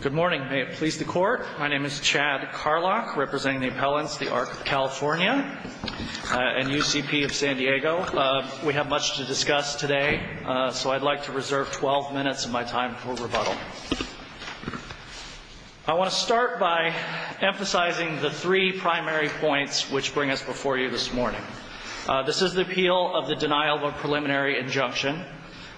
Good morning, may it please the court. My name is Chad Carlock representing the appellants the Arc of California and UCP of San Diego. We have much to discuss today so I'd like to reserve 12 minutes of my time for rebuttal. I want to start by emphasizing the three primary points which bring us before you this morning. This is the appeal of the denial of a preliminary injunction.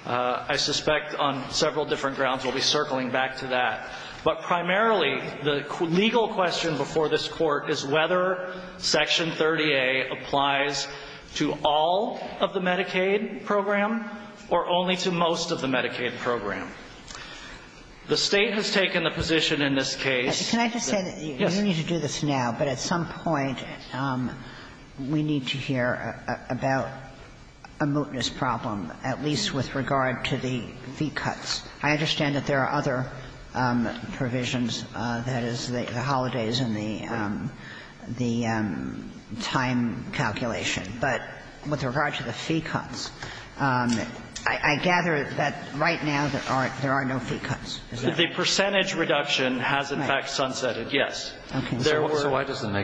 I suspect on that but primarily the legal question before this court is whether Section 30A applies to all of the Medicaid program or only to most of the Medicaid program. The State has taken the position in this case. Can I just say that you need to do this now but at some point we need to hear about a mootness problem at least with regard to the fee cuts. I understand that there are other provisions, that is the holidays and the time calculation, but with regard to the fee cuts, I gather that right now there are no fee cuts. Is that right? The percentage reduction has in fact sunsetted, yes. So why doesn't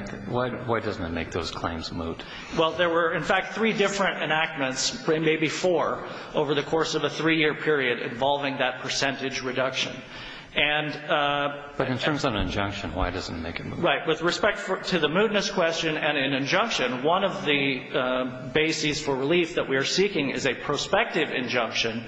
it make those claims moot? Well, there were in fact three different enactments, maybe four, over the course of a three-year period involving that percentage reduction. But in terms of an injunction, why doesn't it make it moot? Right. With respect to the mootness question and an injunction, one of the bases for relief that we are seeking is a prospective injunction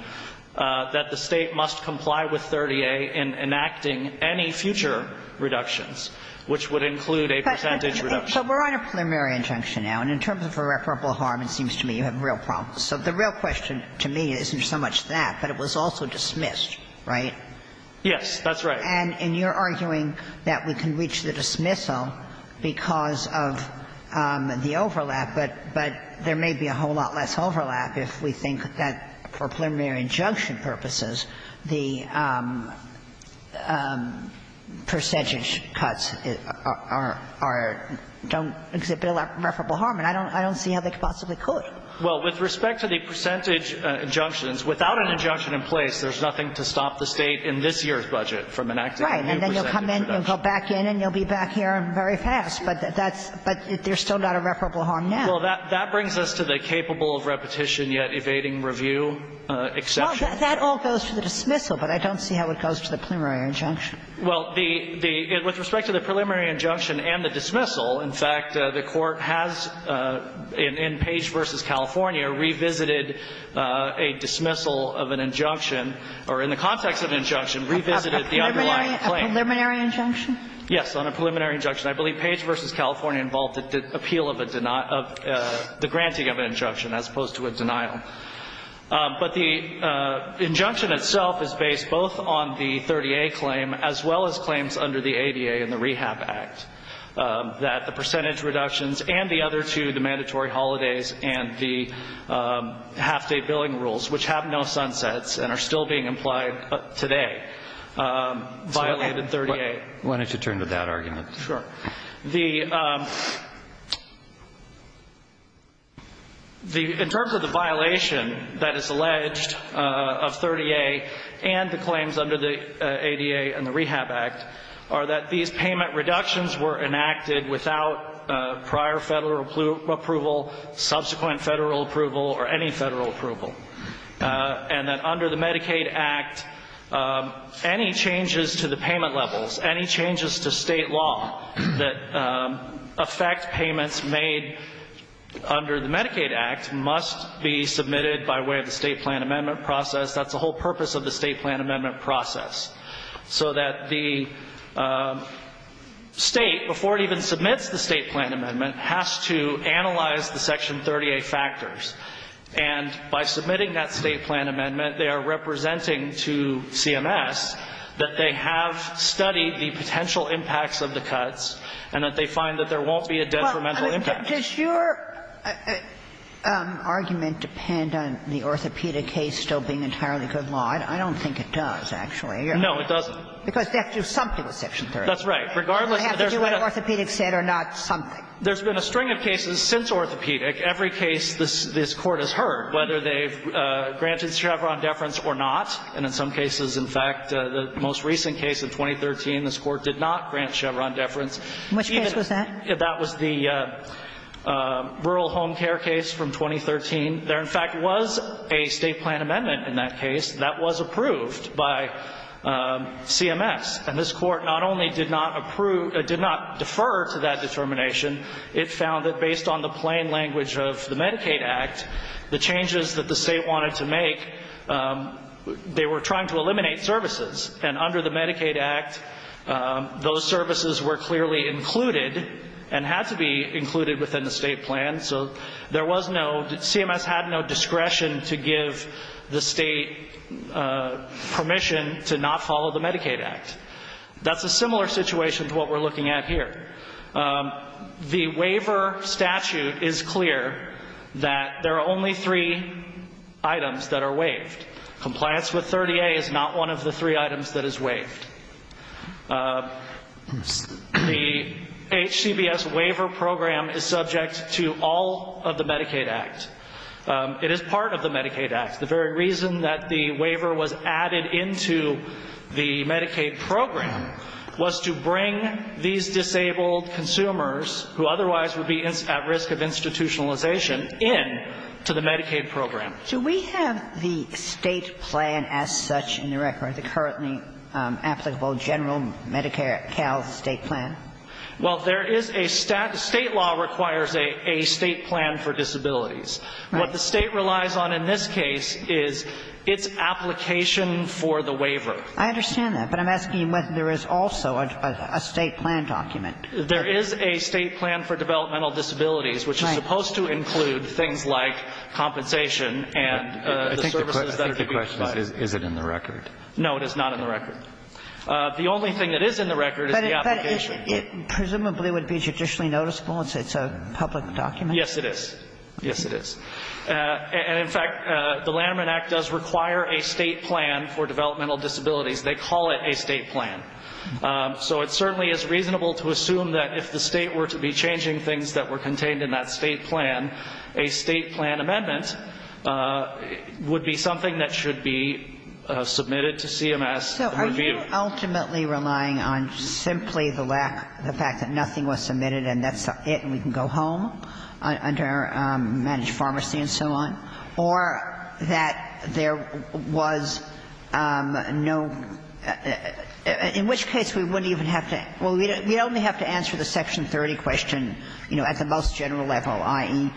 that the State must comply with 30A in enacting any future reductions, which would include a percentage reduction. So we're on a preliminary injunction now, and in terms of irreparable harm, it seems to me you have a real problem. So the real question to me isn't so much that, but it was also dismissed, right? Yes, that's right. And you're arguing that we can reach the dismissal because of the overlap, but there may be a whole lot less overlap if we think that for preliminary injunction purposes, the percentage cuts are don't exhibit irreparable harm, and I don't see how they could possibly could. Well, with respect to the percentage injunctions, without an injunction in place, there's nothing to stop the State in this year's budget from enacting a new percentage reduction. Right. And then you'll come in, you'll go back in, and you'll be back here very fast. But that's – but there's still not irreparable harm now. Well, that brings us to the capable of repetition yet evading review exception. Well, that all goes to the dismissal, but I don't see how it goes to the preliminary injunction. Well, the – with respect to the preliminary injunction and the dismissal, in fact, the Court has, in Page v. California, revisited a dismissal of an injunction or, in the context of an injunction, revisited the underlying claim. A preliminary injunction? Yes, on a preliminary injunction. I believe Page v. California involved the appeal of a – of the granting of an injunction as opposed to a denial. But the injunction itself is based both on the 30A claim as well as claims under the ADA and the Rehab Act that the percentage reductions and the other two, the mandatory holidays and the half-day billing rules, which have no sunsets and are still being implied today, violated 30A. Why don't you turn to that argument? Sure. The – in terms of the violation that is alleged of 30A and the claims under the ADA and the Rehab Act are that these payment reductions were enacted without prior Federal approval, subsequent Federal approval, or any Federal approval, and that under the Medicaid Act, any changes to the payment levels, any changes to State law that affect payments made under the Medicaid Act must be submitted by way of the State plan amendment process. That's the whole purpose of the State plan amendment process, so that the State, before it even submits the State plan amendment, has to analyze the Section 30A factors. And by submitting that State plan amendment, they are representing to CMS that they have studied the potential impacts of the cuts and that they find that there won't be a detrimental impact. Well, does your argument depend on the orthopedic case still being entitled to Section 30A? I don't think it does, actually. No, it doesn't. Because they have to do something with Section 30A. That's right. They have to do what orthopedic said or not something. There's been a string of cases since orthopedic. Every case this Court has heard, whether they've granted Chevron deference or not, and in some cases, in fact, the most recent case of 2013, this Court did not grant Chevron deference. Which case was that? That was the rural home care case from 2013. There, in fact, was a State plan amendment in that case that was approved by CMS. And this Court not only did not defer to that determination, it found that based on the plain language of the Medicaid Act, the changes that the State wanted to make, they were trying to eliminate services. And under the Medicaid Act, those services were clearly included and had to be included within the State plan. So there was no, CMS had no discretion to give the State permission to not follow the Medicaid Act. That's a similar situation to what we're looking at here. The waiver statute is clear that there are only three items that are waived. Compliance with 30A is not one of the three items that is waived. The HCBS waiver program is subject to all of the Medicaid Act. It is part of the Medicaid Act. The very reason that the waiver was added into the Medicaid program was to bring these disabled consumers who otherwise would be at risk of institutionalization in to the Medicaid program. Do we have the State plan as such in the record, the currently applicable general Medicare Cal State plan? Well, there is a State law requires a State plan for disabilities. Right. What the State relies on in this case is its application for the waiver. I understand that. But I'm asking whether there is also a State plan document. There is a State plan for developmental disabilities, which is supposed to include things like compensation and the services that they provide. I think the question is, is it in the record? No, it is not in the record. The only thing that is in the record is the application. But it presumably would be judicially noticeable since it's a public document? Yes, it is. Yes, it is. And, in fact, the Lanterman Act does require a State plan for developmental disabilities. They call it a State plan. So it certainly is reasonable to assume that if the State were to be changing things that were contained in that State plan, a State plan amendment would be something that should be submitted to CMS for review. So are you ultimately relying on simply the lack, the fact that nothing was submitted and that's it and we can go home under managed pharmacy and so on, or that there was no – in which case we wouldn't even have to – well, we'd only have to answer the Section 30 question, you know, at the most general level, i.e.,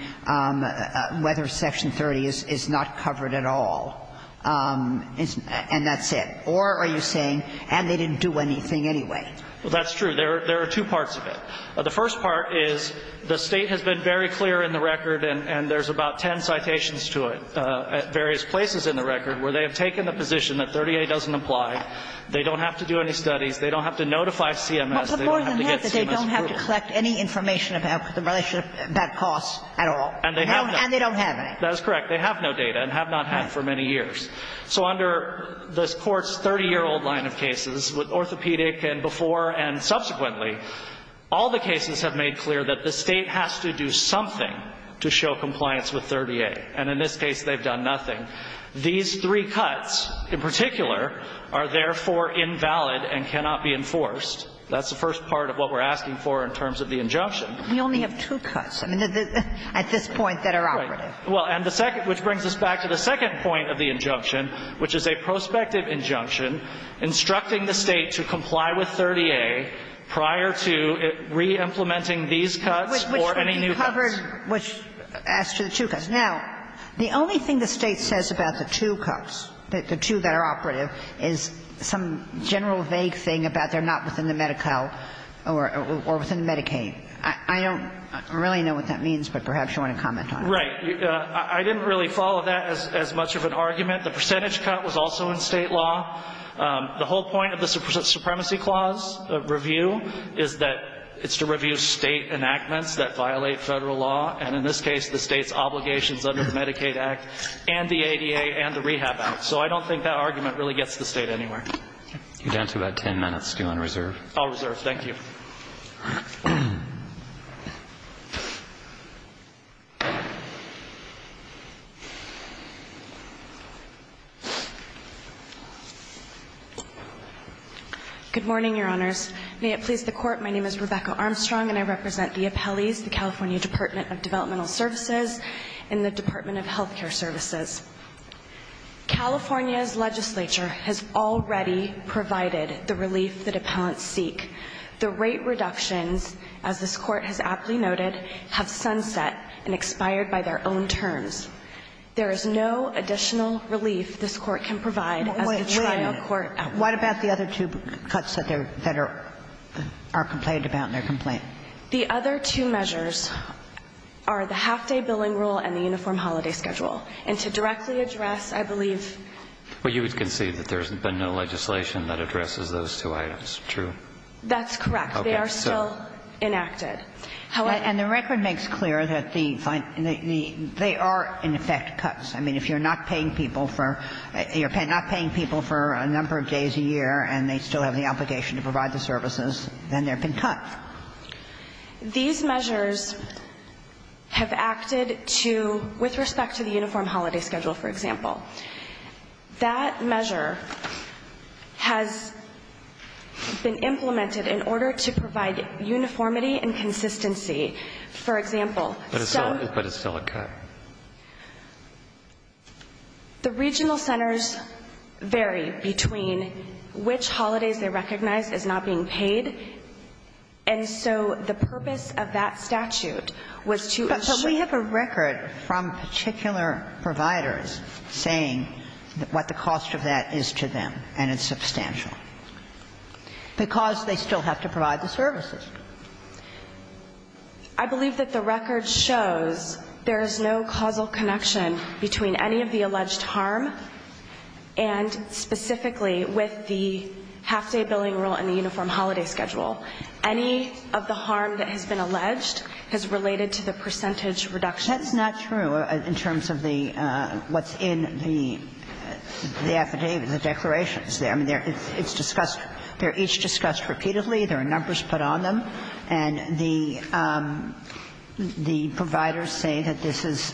whether Section 30 is not covered at all and that's it? Or are you saying, and they didn't do anything anyway? Well, that's true. There are two parts of it. The first part is the State has been very clear in the record and there's about ten citations to it at various places in the record where they have taken the position that 30A doesn't apply, they don't have to do any studies, they don't have to notify CMS, they don't have to get CMS approval. But more than that, they don't have to collect any information about the relationship about costs at all. And they have not. And they don't have any. That is correct. They have no data and have not had for many years. So under this Court's 30-year-old line of cases with orthopedic and before and subsequently, all the cases have made clear that the State has to do something to show compliance with 30A. And in this case, they've done nothing. These three cuts in particular are therefore invalid and cannot be enforced. That's the first part of what we're asking for in terms of the injunction. We only have two cuts. I mean, at this point that are operative. Right. Well, and the second, which brings us back to the second point of the injunction, which is a prospective injunction instructing the State to comply with 30A prior to re-implementing these cuts or any new cuts. Which would be covered as to the two cuts. Now, the only thing the State says about the two cuts, the two that are operative, is some general vague thing about they're not within the Medi-Cal or within Medicaid. I don't really know what that means, but perhaps you want to comment on it. Right. I didn't really follow that as much of an argument. The percentage cut was also in State law. The whole point of the Supremacy Clause review is that it's to review State enactments that violate Federal law. And in this case, the State's obligations under the Medicaid Act and the ADA and the Rehab Act. So I don't think that argument really gets the State anywhere. You're down to about ten minutes. Do you want to reserve? I'll reserve. Thank you. Good morning, Your Honors. May it please the Court. My name is Rebecca Armstrong, and I represent the appellees, the California Department of Developmental Services and the Department of Health Care Services. California's legislature has already provided the relief that appellants seek. The rate reductions, as this Court has aptly noted, have sunset and expired by their own terms. There is no additional relief this Court can provide as a trial court. What about the other two cuts that are complained about in their complaint? The other two measures are the half-day billing rule and the uniform holiday schedule. And to directly address, I believe the other two. Well, you would concede that there's been no legislation that addresses those two items, true? That's correct. Okay. They are still enacted. And the record makes clear that they are, in effect, cuts. I mean, if you're not paying people for – you're not paying people for a number of days a year and they still have the obligation to provide the services, then they've been cut. These measures have acted to – with respect to the uniform holiday schedule, for example. That measure has been implemented in order to provide uniformity and consistency. For example, some – But it's still a cut. Correct. The regional centers vary between which holidays they recognize as not being paid. And so the purpose of that statute was to ensure – But we have a record from particular providers saying what the cost of that is to them, and it's substantial. Because they still have to provide the services. I believe that the record shows there is no causal connection between any of the alleged harm and specifically with the half-day billing rule and the uniform holiday schedule. Any of the harm that has been alleged has related to the percentage reduction. That's not true in terms of the – what's in the affidavit, the declarations there. I mean, it's discussed – they're each discussed repeatedly. There are numbers put on them. And the providers say that this is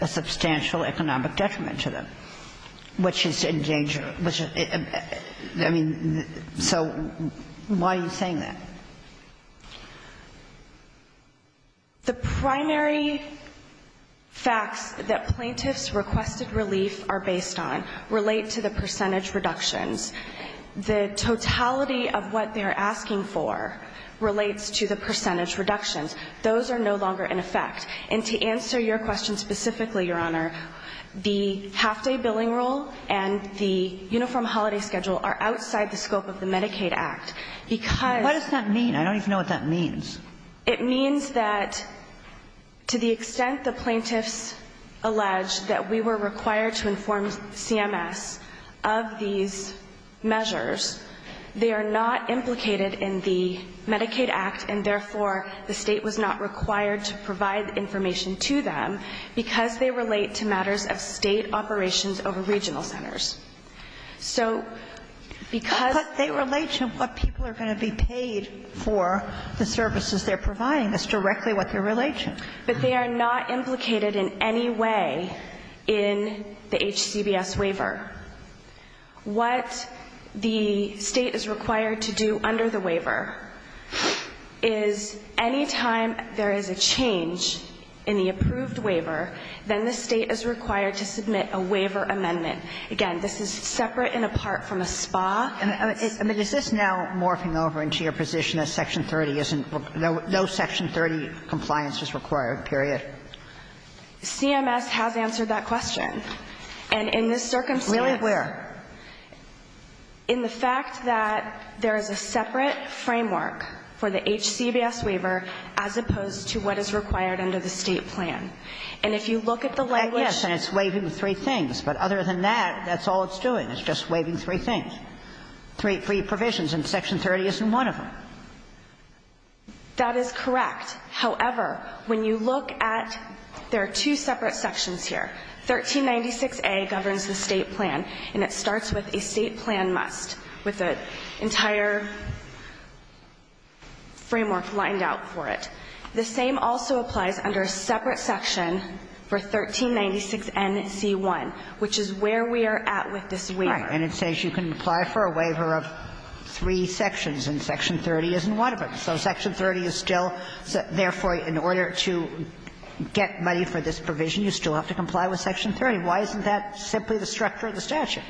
a substantial economic detriment to them, which is in danger. I mean, so why are you saying that? The primary facts that plaintiffs' requested relief are based on relate to the percentage reductions. The totality of what they're asking for relates to the percentage reductions. Those are no longer in effect. And to answer your question specifically, Your Honor, the half-day billing rule and the uniform holiday schedule are outside the scope of the Medicaid Act. Because – What does that mean? I don't even know what that means. It means that to the extent the plaintiffs allege that we were required to inform CMS of these measures, they are not implicated in the Medicaid Act, and therefore the State was not required to provide the information to them because they relate to matters of State operations over regional centers. So because – But they relate to what people are going to be paid for the services they're providing. That's directly what they relate to. But they are not implicated in any way in the HCBS waiver. What the State is required to do under the waiver is any time there is a change in the approved waiver, then the State is required to submit a waiver amendment. Again, this is separate and apart from a SPA. I mean, is this now morphing over into your position that Section 30 isn't – no Section 30 compliance is required, period? CMS has answered that question. And in this circumstance – Really? Where? In the fact that there is a separate framework for the HCBS waiver as opposed to what is required under the State plan. And if you look at the language – Yes, and it's waiving three things. But other than that, that's all it's doing is just waiving three things, three provisions, and Section 30 isn't one of them. That is correct. However, when you look at – there are two separate sections here. 1396a governs the State plan, and it starts with a State plan must, with an entire framework lined out for it. The same also applies under a separate section for 1396nc1, which is where we are at with this waiver. All right. And it says you can apply for a waiver of three sections, and Section 30 isn't one of them. So Section 30 is still – therefore, in order to get money for this provision, you still have to comply with Section 30. Why isn't that simply the structure of the statute?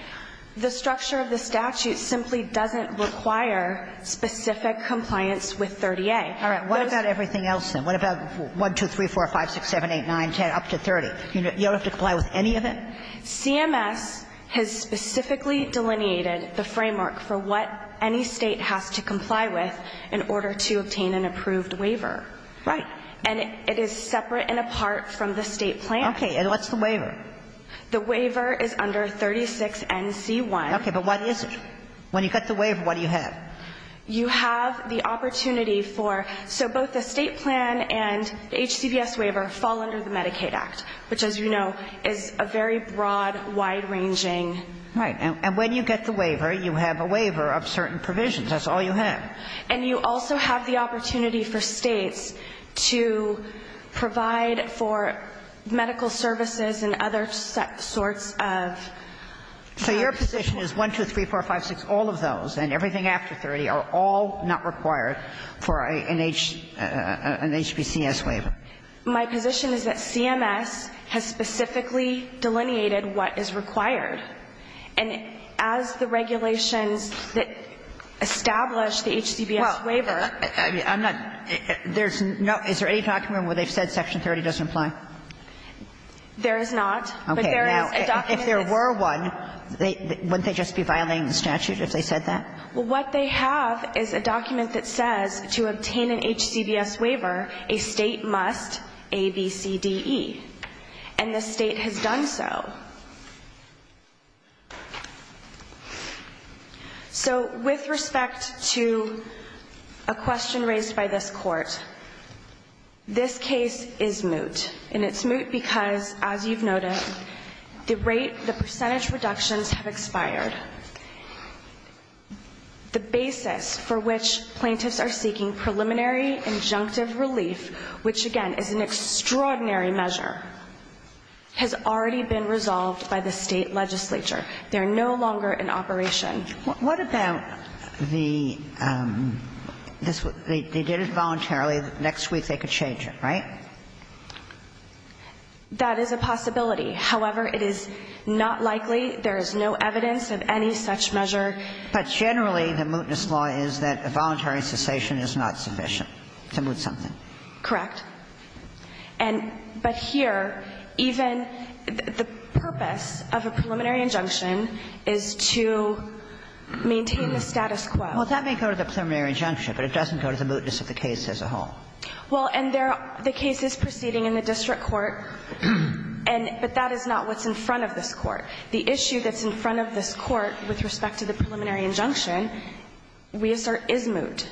The structure of the statute simply doesn't require specific compliance with 30a. All right. What about everything else, then? What about 1, 2, 3, 4, 5, 6, 7, 8, 9, 10, up to 30? You don't have to comply with any of it? No, Your Honor. CMS has specifically delineated the framework for what any State has to comply with in order to obtain an approved waiver. Right. And it is separate and apart from the State plan. Okay. And what's the waiver? The waiver is under 36nc1. Okay. But what is it? When you get the waiver, what do you have? You have the opportunity for – so both the State plan and the HCBS waiver fall under the Medicaid Act, which, as you know, is a very broad, wide-ranging Right. And when you get the waiver, you have a waiver of certain provisions. That's all you have. And you also have the opportunity for States to provide for medical services and other sorts of services. So your position is 1, 2, 3, 4, 5, 6, all of those, and everything after 30, are all not required for an HBCS waiver? My position is that CMS has specifically delineated what is required. And as the regulations that establish the HCBS waiver – Well, I'm not – there's no – is there any document where they've said Section 30 doesn't apply? There is not. Okay. But there is a document that's – Now, if there were one, wouldn't they just be violating the statute if they said Well, what they have is a document that says to obtain an HCBS waiver, a State must A, B, C, D, E. And the State has done so. So with respect to a question raised by this Court, this case is moot. And it's moot because, as you've noted, the rate – the percentage reductions have expired. The basis for which plaintiffs are seeking preliminary injunctive relief, which, again, is an extraordinary measure, has already been resolved by the State legislature. They're no longer in operation. What about the – they did it voluntarily. Next week they could change it, right? That is a possibility. However, it is not likely. There is no evidence of any such measure. But generally, the mootness law is that a voluntary cessation is not sufficient to moot something. Correct. And – but here, even the purpose of a preliminary injunction is to maintain the status quo. Well, that may go to the preliminary injunction, but it doesn't go to the mootness of the case as a whole. Well, and there – the case is proceeding in the district court, and – but that is not what's in front of this Court. The issue that's in front of this Court with respect to the preliminary injunction, we assert is moot.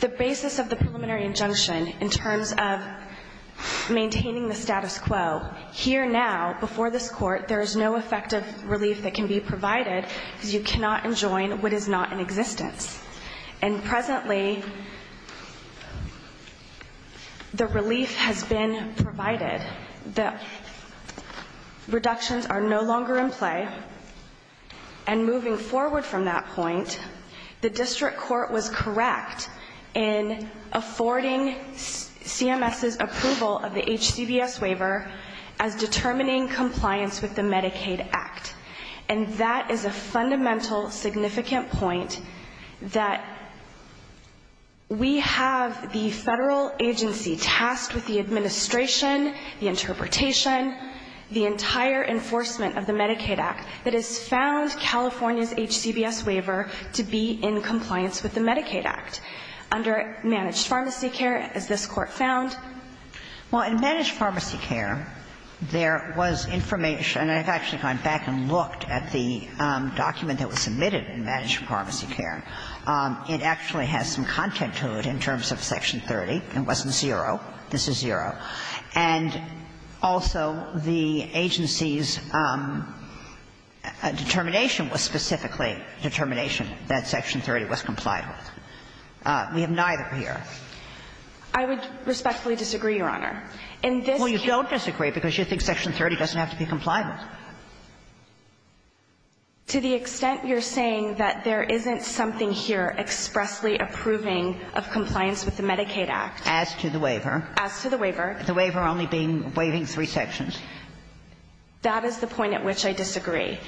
The basis of the preliminary injunction in terms of maintaining the status quo, here now, before this Court, there is no effective relief that can be provided because you cannot enjoin what is not in existence. And presently, the relief has been provided. The reductions are no longer in play, and moving forward from that point, the district court was correct in affording CMS's approval of the HCBS waiver as determining compliance with the Medicaid Act. And that is a fundamental significant point that we have the Federal agency tasked with the administration, the interpretation, the entire enforcement of the Medicaid Act that has found California's HCBS waiver to be in compliance with the Medicaid Act under managed pharmacy care, as this Court found. Well, in managed pharmacy care, there was information – I've actually gone back and looked at the document that was submitted in managed pharmacy care. It actually has some content to it in terms of Section 30. It wasn't zero. This is zero. And also, the agency's determination was specifically a determination that Section 30 was compliant with. We have neither here. I would respectfully disagree, Your Honor. In this case – Well, you don't disagree because you think Section 30 doesn't have to be compliant. To the extent you're saying that there isn't something here expressly approving of compliance with the Medicaid Act – As to the waiver. As to the waiver. The waiver only being – waiving three sections. That is the point at which I disagree.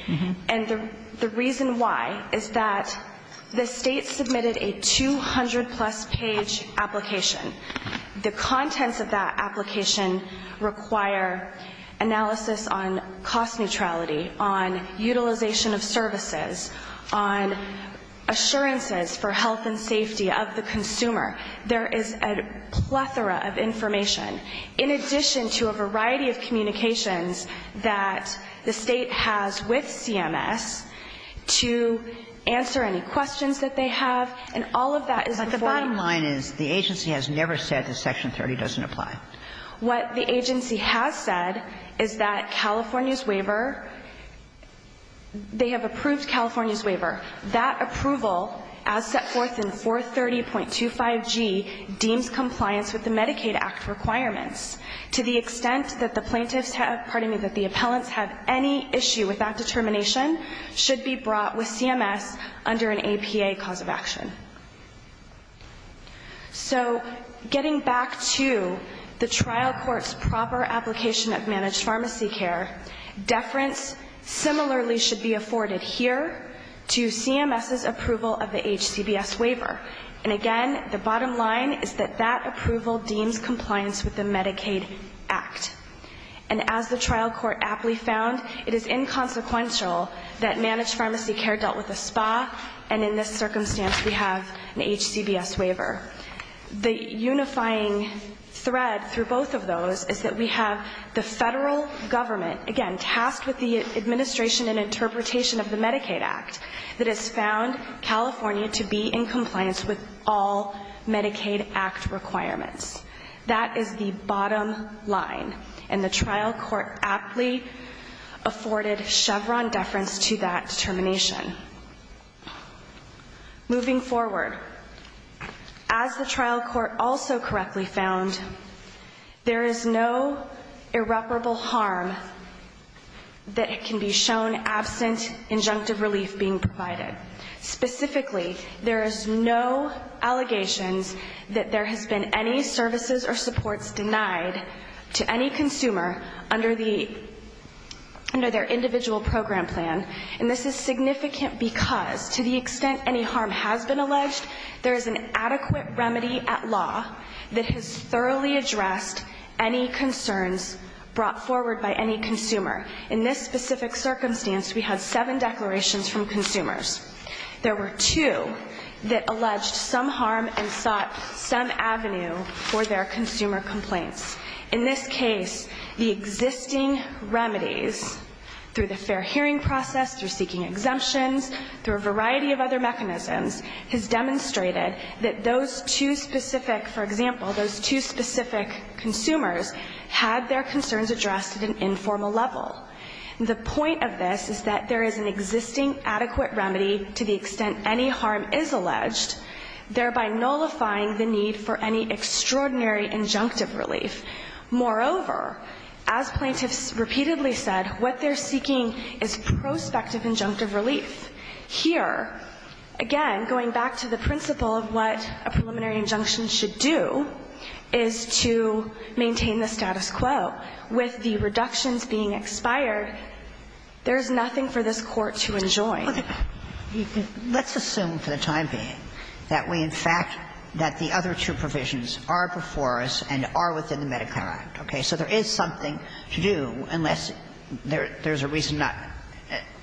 And the reason why is that the State submitted a 200-plus page application. The contents of that application require analysis on cost neutrality, on utilization of services, on assurances for health and safety of the consumer. There is a plethora of information. In addition to a variety of communications that the State has with CMS to answer any questions that they have. And all of that is before you. But the bottom line is the agency has never said that Section 30 doesn't apply. What the agency has said is that California's waiver – they have approved California's waiver. That approval, as set forth in 430.25g, deems compliance with the Medicaid Act requirements. To the extent that the plaintiffs have – pardon me, that the appellants have any issue with that determination, should be brought with CMS under an APA cause of action. So getting back to the trial court's proper application of managed pharmacy care, deference similarly should be afforded here to CMS's approval of the HCBS waiver. And again, the bottom line is that that approval deems compliance with the Medicaid Act. And as the trial court aptly found, it is inconsequential that managed pharmacy care dealt with a SPA, and in this circumstance we have an HCBS waiver. The unifying thread through both of those is that we have the federal government, again, tasked with the administration and interpretation of the Medicaid Act, that has found California to be in compliance with all Medicaid Act requirements. That is the bottom line. And the trial court aptly afforded Chevron deference to that determination. Moving forward, as the trial court also correctly found, there is no irreparable harm that can be shown absent injunctive relief being provided. Specifically, there is no allegations that there has been any services or supports denied to any consumer under their individual program plan. And this is significant because, to the extent any harm has been alleged, there is an adequate remedy at law that has thoroughly addressed any concerns brought forward by any consumer. In this specific circumstance, we had seven declarations from consumers. There were two that alleged some harm and sought some avenue for their consumer complaints. In this case, the existing remedies through the fair hearing process, through seeking exemptions, through a variety of other mechanisms, has demonstrated that those two specific, for example, those two specific consumers had their concerns addressed at an informal level. The point of this is that there is an existing adequate remedy to the extent any harm is alleged, thereby nullifying the need for any extraordinary injunctive relief. Moreover, as plaintiffs repeatedly said, what they're seeking is prospective injunctive relief. Here, again, going back to the principle of what a preliminary injunction should do is to maintain the status quo. With the reductions being expired, there is nothing for this Court to enjoin. Let's assume for the time being that we, in fact, that the other two provisions are before us and are within the Medicare Act. Okay? So there is something to do unless there's a reason not to.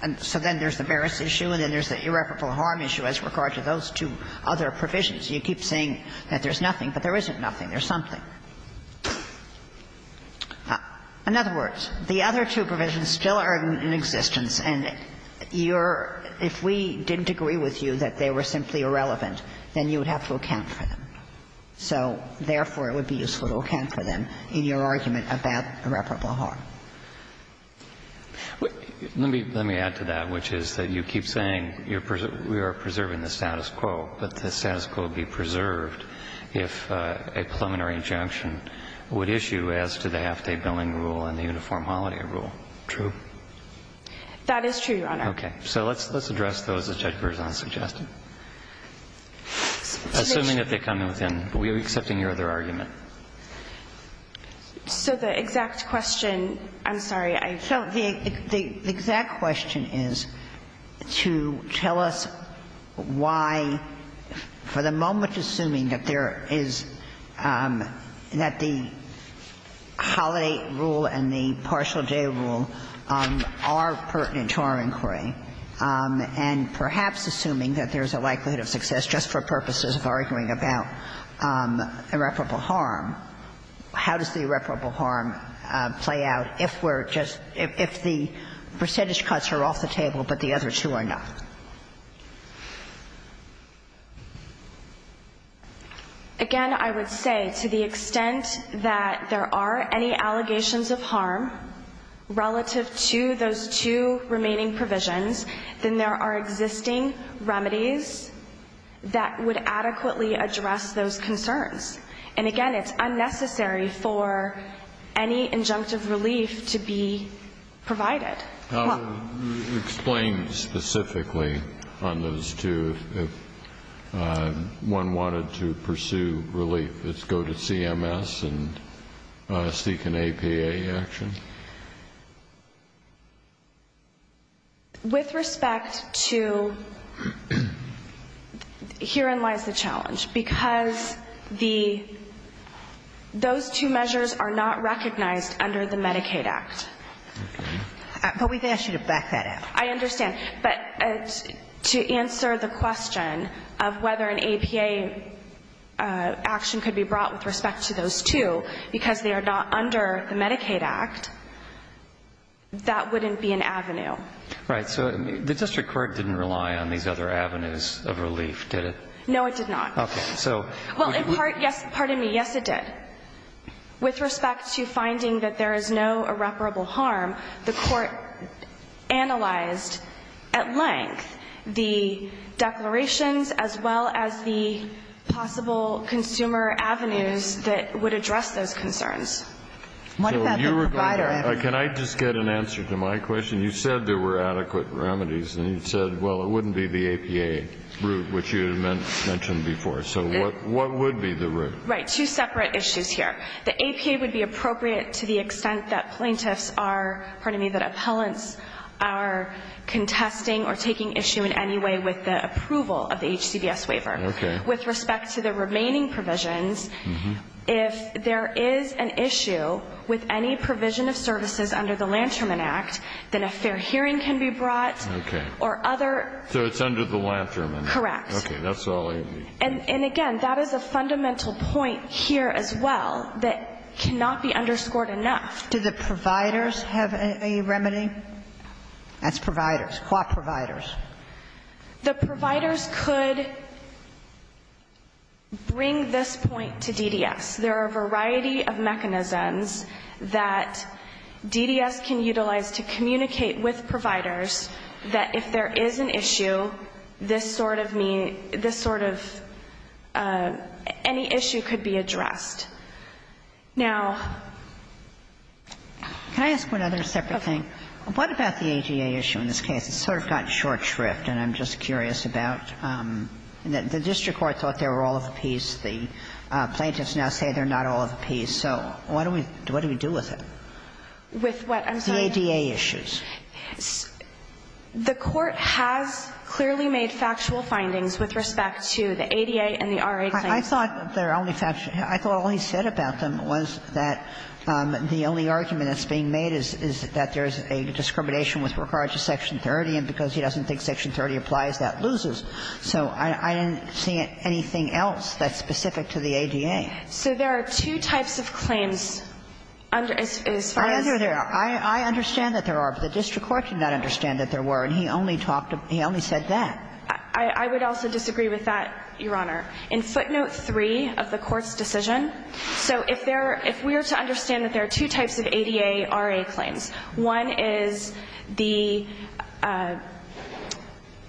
And so then there's the merits issue and then there's the irreparable harm issue as regard to those two other provisions. You keep saying that there's nothing, but there isn't nothing. There's something. In other words, the other two provisions still are in existence, and you're – if we didn't agree with you that they were simply irrelevant, then you would have to account for them. So therefore, it would be useful to account for them in your argument about irreparable harm. Let me add to that, which is that you keep saying you're – we are preserving the status quo, but the status quo would be preserved if a preliminary injunction would issue as to the half-day billing rule and the uniform holiday rule. True. That is true, Your Honor. Okay. So let's address those as Judge Berzon suggested. Assuming that they come within – are we accepting your other argument? So the exact question – I'm sorry, I felt the – the exact question is to tell us why, for the moment, assuming that there is – that the holiday rule and the partial day rule are pertinent to our inquiry, and perhaps assuming that there's a likelihood of success just for purposes of arguing about irreparable harm, how does the irreparable harm play out if we're just – if the percentage cuts are off the table, but the other two are not? Again, I would say, to the extent that there are any allegations of harm relative to those two remaining provisions, then there are existing remedies that would adequately address those concerns. And again, it's unnecessary for any injunctive relief to be provided. Explain specifically on those two. If one wanted to pursue relief, it's go to CMS and seek an APA action? With respect to – herein lies the challenge. Because the – those two measures are not recognized under the Medicaid Act. Okay. But we've asked you to back that up. I understand. But to answer the question of whether an APA action could be brought out with respect to those two, because they are not under the Medicaid Act, that wouldn't be an avenue. Right. So the district court didn't rely on these other avenues of relief, did it? No, it did not. Okay. So – Well, in part, yes – pardon me. Yes, it did. With respect to finding that there is no irreparable harm, the court analyzed at length the declarations as well as the possible consumer avenues that would address those concerns. So you were going to – can I just get an answer to my question? You said there were adequate remedies, and you said, well, it wouldn't be the APA route, which you had mentioned before. So what would be the route? Right. Two separate issues here. The APA would be appropriate to the extent that plaintiffs are – pardon me – that appellants are contesting or taking issue in any way with the approval of the HCBS waiver. Okay. With respect to the remaining provisions, if there is an issue with any provision of services under the Lanterman Act, then a fair hearing can be brought or other – So it's under the Lanterman Act. Correct. Okay. That's all I need. And, again, that is a fundamental point here as well that cannot be underscored enough. Do the providers have a remedy? That's providers. What providers? The providers could bring this point to DDS. There are a variety of mechanisms that DDS can utilize to communicate with providers that if there is an issue, this sort of mean – this sort of – any issue could be addressed. Now – Can I ask one other separate thing? Okay. What about the ADA issue in this case? It's sort of gotten short shrift, and I'm just curious about – the district court thought they were all of the piece. The plaintiffs now say they're not all of the piece. So what do we – what do we do with it? With what? I'm sorry. The ADA issues. The court has clearly made factual findings with respect to the ADA and the RA claims. I thought their only factual – I thought all he said about them was that the only argument that's being made is that there's a discrimination with regard to Section 30, and because he doesn't think Section 30 applies, that loses. So I didn't see anything else that's specific to the ADA. So there are two types of claims. I understand that there are, but the district court did not understand that there were, and he only talked – he only said that. I would also disagree with that, Your Honor. In footnote 3 of the court's decision – so if there – if we were to understand that there are two types of ADA, RA claims, one is the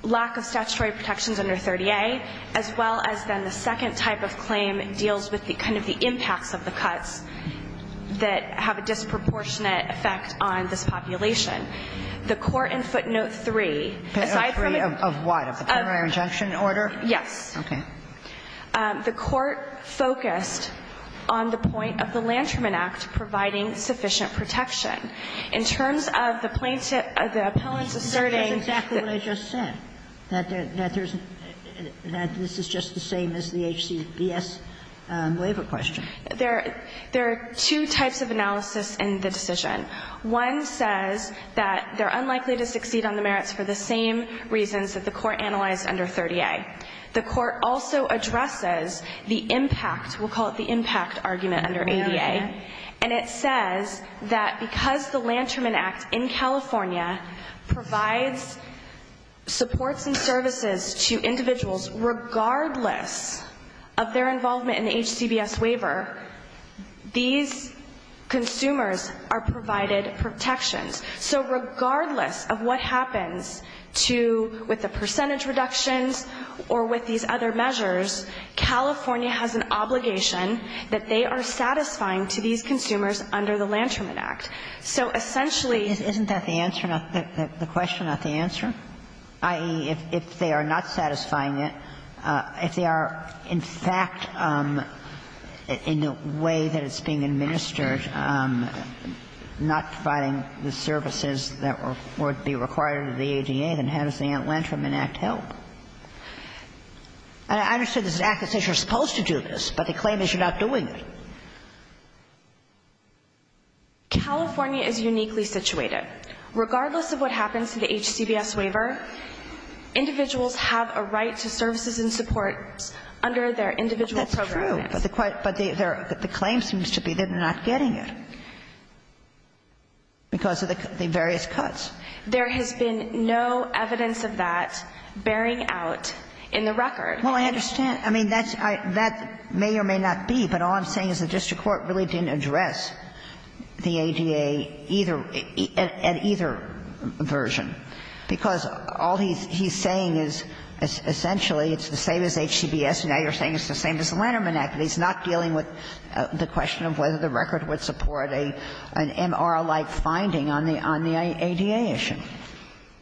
lack of statutory protections under 30A, as well as then the second type of claim deals with the – kind of the impacts of the cuts that have a disproportionate effect on this population. The court in footnote 3 – Footnote 3 of what? Of the preliminary injunction order? Yes. Okay. The court focused on the point of the Lanterman Act providing sufficient protection. In terms of the plaintiff – the appellant's asserting that – That's exactly what I just said, that there's – that this is just the same as the HCBS waiver question. There – there are two types of analysis in the decision. One says that they're unlikely to succeed on the merits for the same reasons that the court analyzed under 30A. The court also addresses the impact – we'll call it the impact argument under ADA. Okay. And it says that because the Lanterman Act in California provides supports and services to individuals regardless of their involvement in the HCBS waiver, these other measures, California has an obligation that they are satisfying to these consumers under the Lanterman Act. So essentially – Isn't that the answer – the question, not the answer? I.e., if they are not satisfying it, if they are, in fact, in the way that it's being administered, not providing the services that would be required under the ADA, then how does the Lanterman Act help? I understand this is an act that says you're supposed to do this, but the claim is you're not doing it. California is uniquely situated. Regardless of what happens to the HCBS waiver, individuals have a right to services and support under their individual program act. That's true, but the claim seems to be they're not getting it. Because of the various cuts. There has been no evidence of that bearing out in the record. Well, I understand. I mean, that's – that may or may not be, but all I'm saying is the district court really didn't address the ADA either – at either version, because all he's saying is essentially it's the same as HCBS, and now you're saying it's the same as the Lanterman Act, but he's not dealing with the question of whether the record would support an MR-like finding on the ADA issue.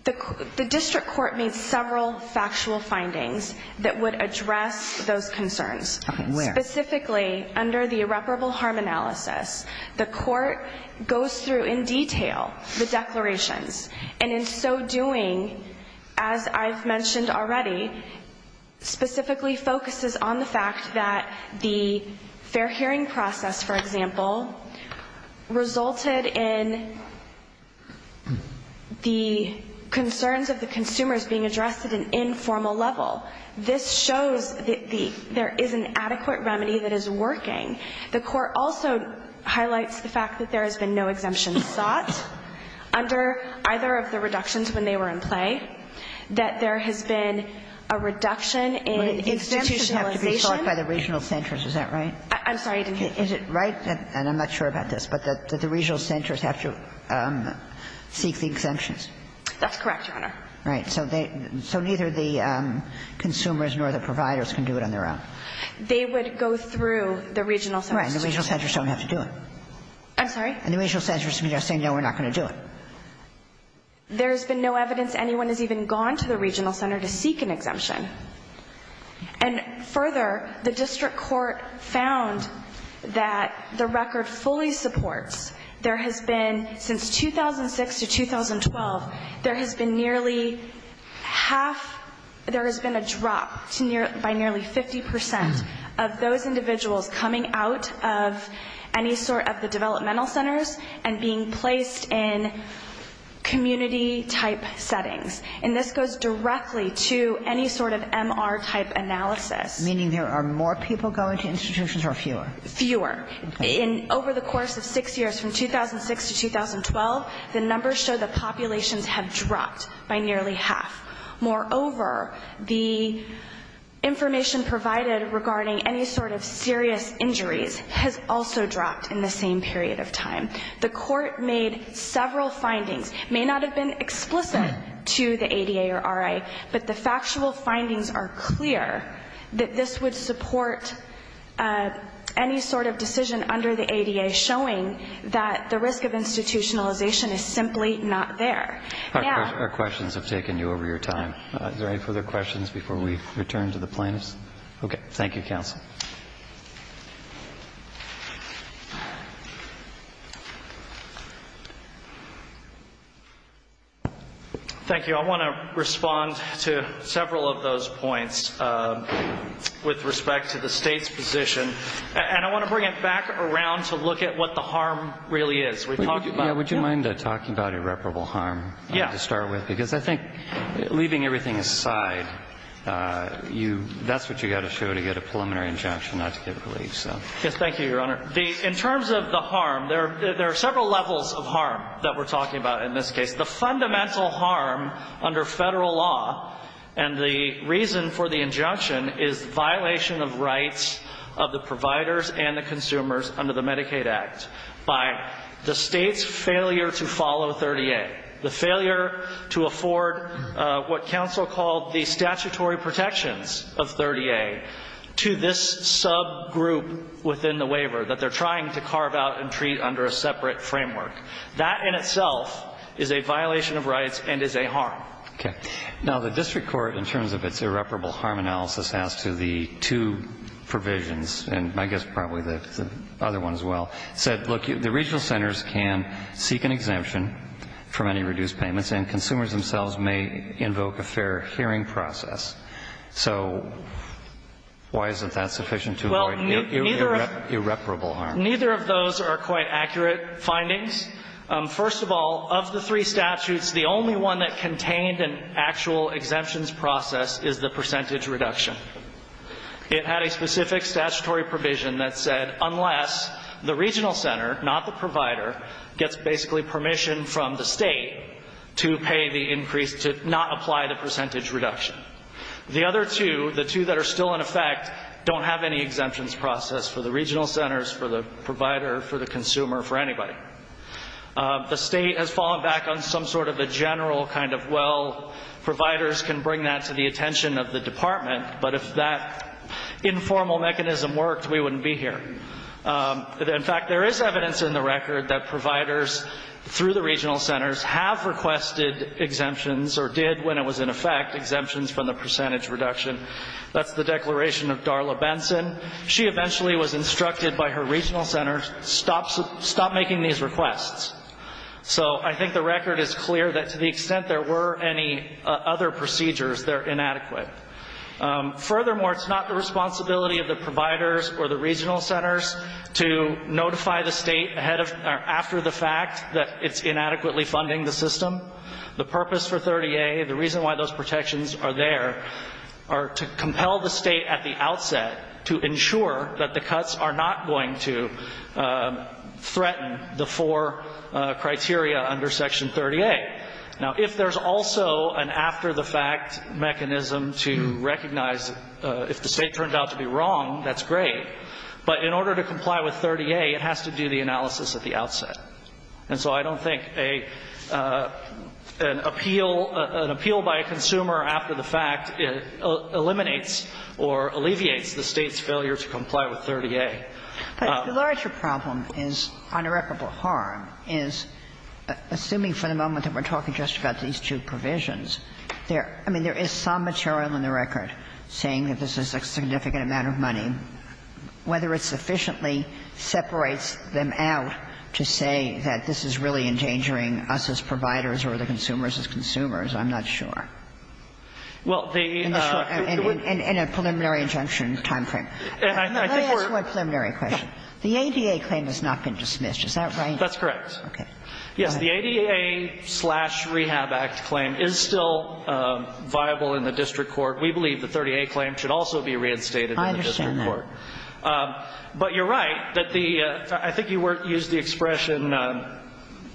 The district court made several factual findings that would address those concerns. Okay. Where? Specifically, under the irreparable harm analysis, the court goes through in detail the declarations, and in so doing, as I've mentioned already, specifically focuses on the fact that the fair hearing process, for example, resulted in the concerns of the consumers being addressed at an informal level. This shows that there is an adequate remedy that is working. The court also highlights the fact that there has been no exemption sought under either of the reductions when they were in play, that there has been a reduction in institutionalization. But exemptions have to be sought by the regional centers, is that right? I'm sorry, I didn't hear you. Is it right, and I'm not sure about this, but that the regional centers have to seek the exemptions? That's correct, Your Honor. Right. So neither the consumers nor the providers can do it on their own. They would go through the regional centers. Right. And the regional centers don't have to do it. I'm sorry? And the regional centers can just say, no, we're not going to do it. There has been no evidence anyone has even gone to the regional center to seek an exemption. And further, the district court found that the record fully supports there has been, since 2006 to 2012, there has been nearly half, there has been a drop by nearly 50% of those individuals coming out of any sort of the developmental centers and being placed in community-type settings. And this goes directly to any sort of MR-type analysis. Meaning there are more people going to institutions or fewer? Fewer. Okay. Over the course of six years, from 2006 to 2012, the numbers show that populations have dropped by nearly half. Moreover, the information provided regarding any sort of serious injuries has also dropped in the same period of time. The court made several findings. It may not have been explicit to the ADA or RA, but the factual findings are clear that this would support any sort of decision under the ADA showing that the risk of institutionalization is simply not there. Our questions have taken you over your time. Is there any further questions before we return to the plaintiffs? Okay. Thank you, counsel. Thank you. I want to respond to several of those points with respect to the state's position. And I want to bring it back around to look at what the harm really is. Would you mind talking about irreparable harm to start with? Yeah. Because I think, leaving everything aside, that's what you've got to show to get a preliminary injunction not to give relief. Yes, thank you, Your Honor. In terms of the harm, there are several levels of harm that we're talking about in this case. The fundamental harm under federal law and the reason for the injunction is violation of rights of the providers and the consumers under the Medicaid Act by the state's failure to follow 30A, the failure to afford what counsel recalled the statutory protections of 30A to this subgroup within the waiver that they're trying to carve out and treat under a separate framework. That in itself is a violation of rights and is a harm. Okay. Now, the district court, in terms of its irreparable harm analysis as to the two provisions, and I guess probably the other one as well, said, look, the regional centers can seek an exemption for many reduced payments and consumers themselves may invoke a fair hearing process. So why isn't that sufficient to avoid irreparable harm? Neither of those are quite accurate findings. First of all, of the three statutes, the only one that contained an actual exemptions process is the percentage reduction. It had a specific statutory provision that said unless the regional center, not the provider, gets basically permission from the state to pay the increase, to not apply the percentage reduction. The other two, the two that are still in effect, don't have any exemptions process for the regional centers, for the provider, for the consumer, for anybody. The state has fallen back on some sort of a general kind of, well, providers can bring that to the attention of the department, but if that informal mechanism worked, we wouldn't be here. In fact, there is evidence in the record that providers through the regional centers have requested exemptions or did when it was in effect, exemptions from the percentage reduction. That's the declaration of Darla Benson. She eventually was instructed by her regional center, stop making these requests. So I think the record is clear that to the extent there were any other procedures, they're inadequate. Furthermore, it's not the responsibility of the providers or the regional centers to notify the state after the fact that it's inadequately funding the system. The purpose for 30A, the reason why those protections are there, are to compel the state at the outset to ensure that the cuts are not going to threaten the four criteria under Section 30A. Now, if there's also an after-the-fact mechanism to recognize if the state turned out to be wrong, that's great. But in order to comply with 30A, it has to do the analysis at the outset. And so I don't think an appeal, an appeal by a consumer after the fact eliminates or alleviates the state's failure to comply with 30A. But the larger problem is, on irreparable harm, is, assuming for the moment that we're talking just about these two provisions, there – I mean, there is some material in the record saying that this is a significant amount of money. Whether it sufficiently separates them out to say that this is really endangering us as providers or the consumers as consumers, I'm not sure. Well, the – In a preliminary injunction timeframe. And I think we're – Let me ask one preliminary question. The ADA claim has not been dismissed. Is that right? That's correct. Okay. Go ahead. Yes. The ADA-slash-Rehab Act claim is still viable in the district court. We believe the 30A claim should also be reinstated in the district court. I understand that. But you're right that the – I think you used the expression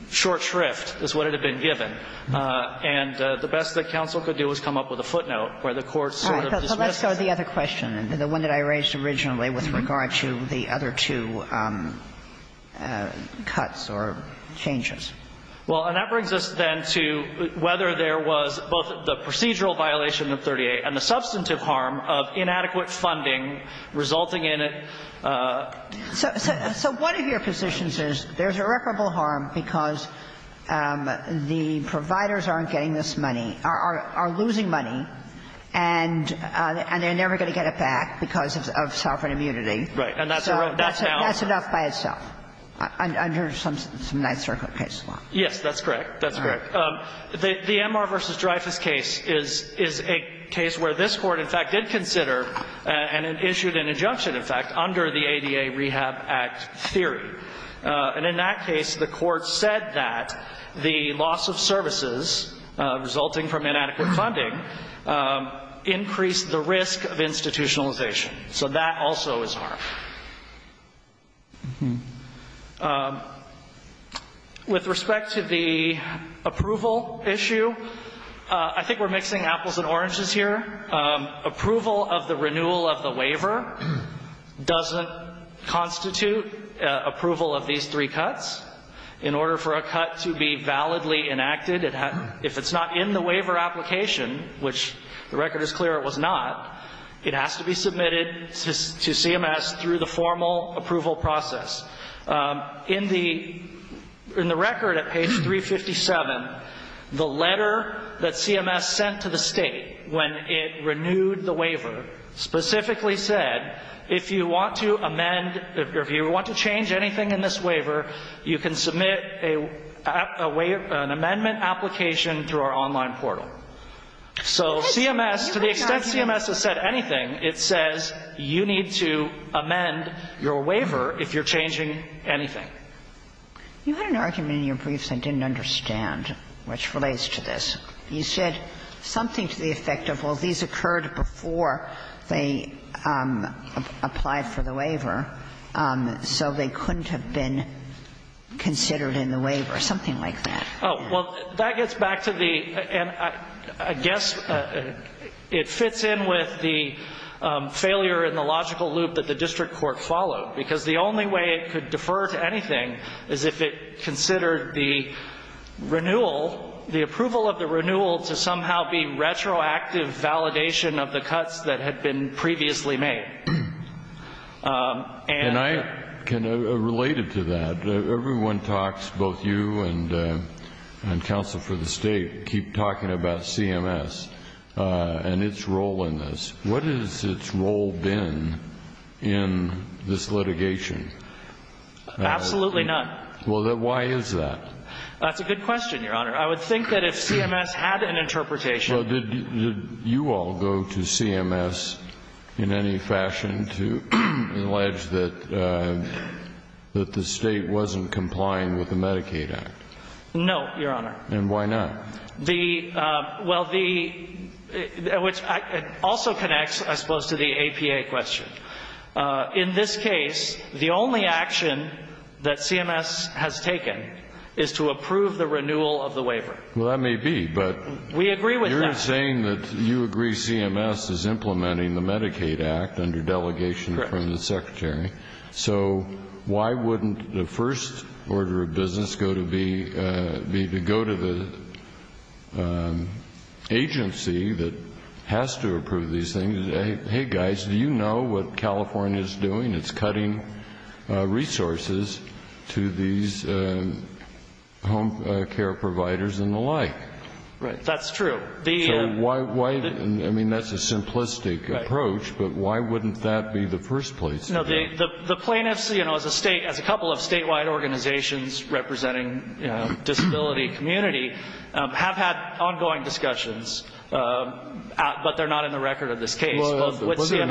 short shrift is what it had been given. And the best that counsel could do is come up with a footnote where the court sort of dismisses that. All right. So let's go to the other question, the one that I raised originally with regard to the other two cuts or changes. Well, and that brings us then to whether there was both the procedural violation of 30A and the substantive harm of inadequate funding resulting in a – So one of your positions is there's irreparable harm because the providers aren't getting this money, are losing money. And they're never going to get it back because of sovereign immunity. Right. And that's a real downer. That's enough by itself under some nice, circular case law. Yes, that's correct. That's correct. The Enmar v. Dreyfus case is a case where this Court, in fact, did consider and it issued an injunction, in fact, under the ADA-Rehab Act theory. And in that case, the Court said that the loss of services resulting from inadequate funding increased the risk of institutionalization. So that also is harm. With respect to the approval issue, I think we're mixing apples and oranges here. Approval of the renewal of the waiver doesn't constitute approval of these three cuts. In order for a cut to be validly enacted, if it's not in the waiver application, which the record is clear it was not, it has to be submitted to CMS through the formal approval process. In the record at page 357, the letter that CMS sent to the State when it renewed the waiver specifically said, if you want to amend or if you want to change anything in this waiver, you can submit a waiver, an amendment application through our online portal. So CMS, to the extent CMS has said anything, it says you need to amend your waiver if you're changing anything. You had an argument in your briefs I didn't understand which relates to this. You said something to the effect of, well, these occurred before they applied for the waiver, so they couldn't have been considered in the waiver, something like that. Well, that gets back to the, and I guess it fits in with the failure in the logical loop that the district court followed, because the only way it could defer to anything is if it considered the renewal, the approval of the renewal to somehow be retroactive validation of the cuts that had been previously made. And I can, related to that, everyone talks, both you and counsel for the State, keep talking about CMS and its role in this. What has its role been in this litigation? Absolutely none. Well, then why is that? That's a good question, Your Honor. I would think that if CMS had an interpretation. Well, did you all go to CMS in any fashion to allege that the State wasn't complying with the Medicaid Act? No, Your Honor. And why not? The, well, the, which also connects, I suppose, to the APA question. In this case, the only action that CMS has taken is to approve the renewal of the waiver. Well, that may be, but. We agree with that. You're saying that you agree CMS is implementing the Medicaid Act under delegation from the Secretary. Correct. So why wouldn't the first order of business go to be, go to the agency that has to approve these things? Hey, guys, do you know what California is doing? It's cutting resources to these home care providers and the like. Right. That's true. So why, I mean, that's a simplistic approach, but why wouldn't that be the first place? No, the plaintiffs, you know, as a couple of statewide organizations representing disability community have had ongoing discussions, but they're not in the record of this case. Well, it's in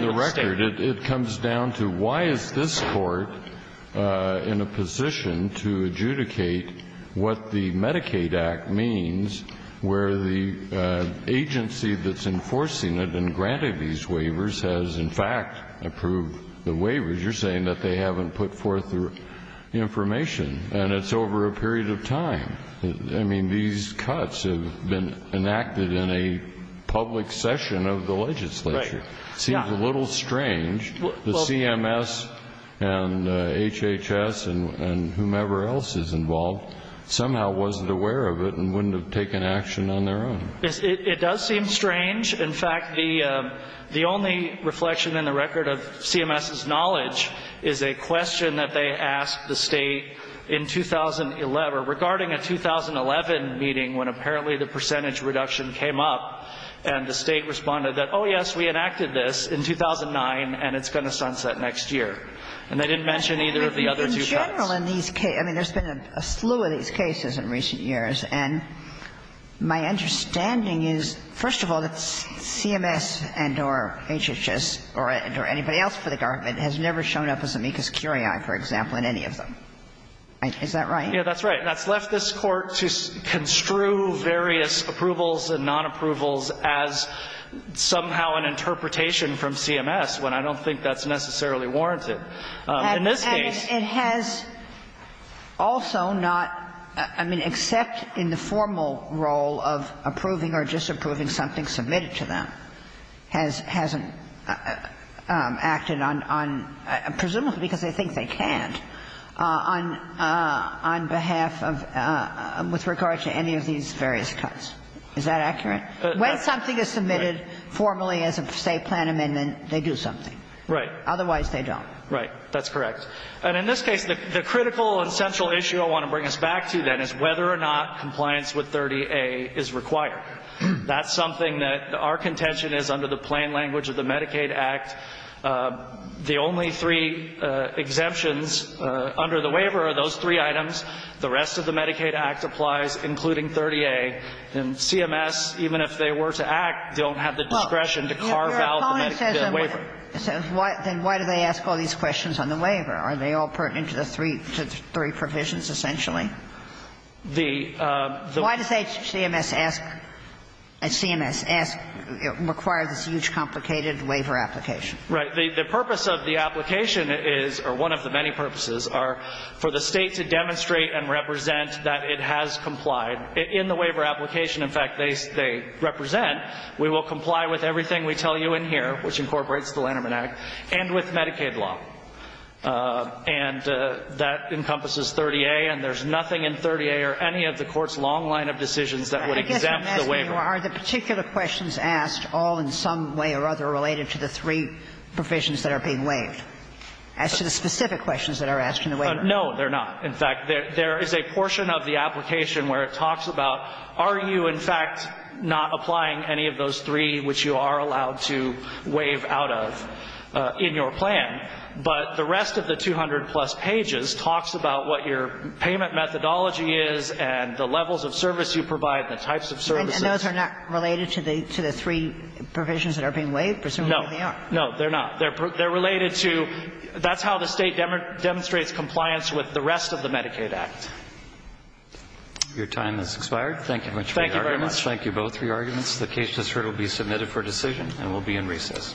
the record. It comes down to why is this Court in a position to adjudicate what the Medicaid Act means where the agency that's enforcing it and granting these waivers has, in fact, approved the waivers. You're saying that they haven't put forth the information. And it's over a period of time. I mean, these cuts have been enacted in a public session of the legislature. It seems a little strange. The CMS and HHS and whomever else is involved somehow wasn't aware of it and wouldn't have taken action on their own. It does seem strange. In fact, the only reflection in the record of CMS's knowledge is a question that they asked the State in 2011 regarding a 2011 meeting when apparently the percentage reduction came up and the State responded that, oh, yes, we enacted this in 2009 and it's going to sunset next year. And they didn't mention either of the other two cuts. In general in these cases, I mean, there's been a slew of these cases in recent years, and my understanding is, first of all, that CMS and or HHS or anybody else for the government has never shown up as amicus curiae, for example, in any of them. Is that right? Yeah, that's right. And that's left this Court to construe various approvals and nonapprovals as somehow an interpretation from CMS, when I don't think that's necessarily warranted in this case. And it has also not, I mean, except in the formal role of approving or disapproving something submitted to them, hasn't acted on, presumably because they think they can't, on behalf of, with regard to any of these various cuts. Is that accurate? When something is submitted formally as a State plan amendment, they do something. Right. Otherwise, they don't. Right. That's correct. And in this case, the critical and central issue I want to bring us back to, then, is whether or not compliance with 30A is required. That's something that our contention is under the plain language of the Medicaid Act. The only three exemptions under the waiver are those three items. The rest of the Medicaid Act applies, including 30A. And CMS, even if they were to act, don't have the discretion to carve out the waiver. Well, your opponent says then why do they ask all these questions on the waiver? Are they all pertinent to the three provisions, essentially? The ---- Why does CMS ask, CMS ask, require this huge, complicated waiver application? Right. The purpose of the application is, or one of the many purposes, are for the State to demonstrate and represent that it has complied. In the waiver application, in fact, they represent, we will comply with everything we tell you in here, which incorporates the Lanterman Act, and with Medicaid law. And that encompasses 30A, and there's nothing in 30A or any of the Court's long line of decisions that would exempt the waiver. I guess I'm asking you, are the particular questions asked all in some way or other related to the three provisions that are being waived, as to the specific questions that are asked in the waiver? No, they're not. In fact, there is a portion of the application where it talks about are you, in fact, not applying any of those three which you are allowed to waive out of in your plan. But the rest of the 200-plus pages talks about what your payment methodology is and the levels of service you provide, the types of services. And those are not related to the three provisions that are being waived? Presumably they are. No. No, they're not. They're related to, that's how the State demonstrates compliance with the rest of the Medicaid Act. Your time has expired. Thank you very much for your arguments. Thank you both for your arguments. The case has heard will be submitted for decision and will be in recess.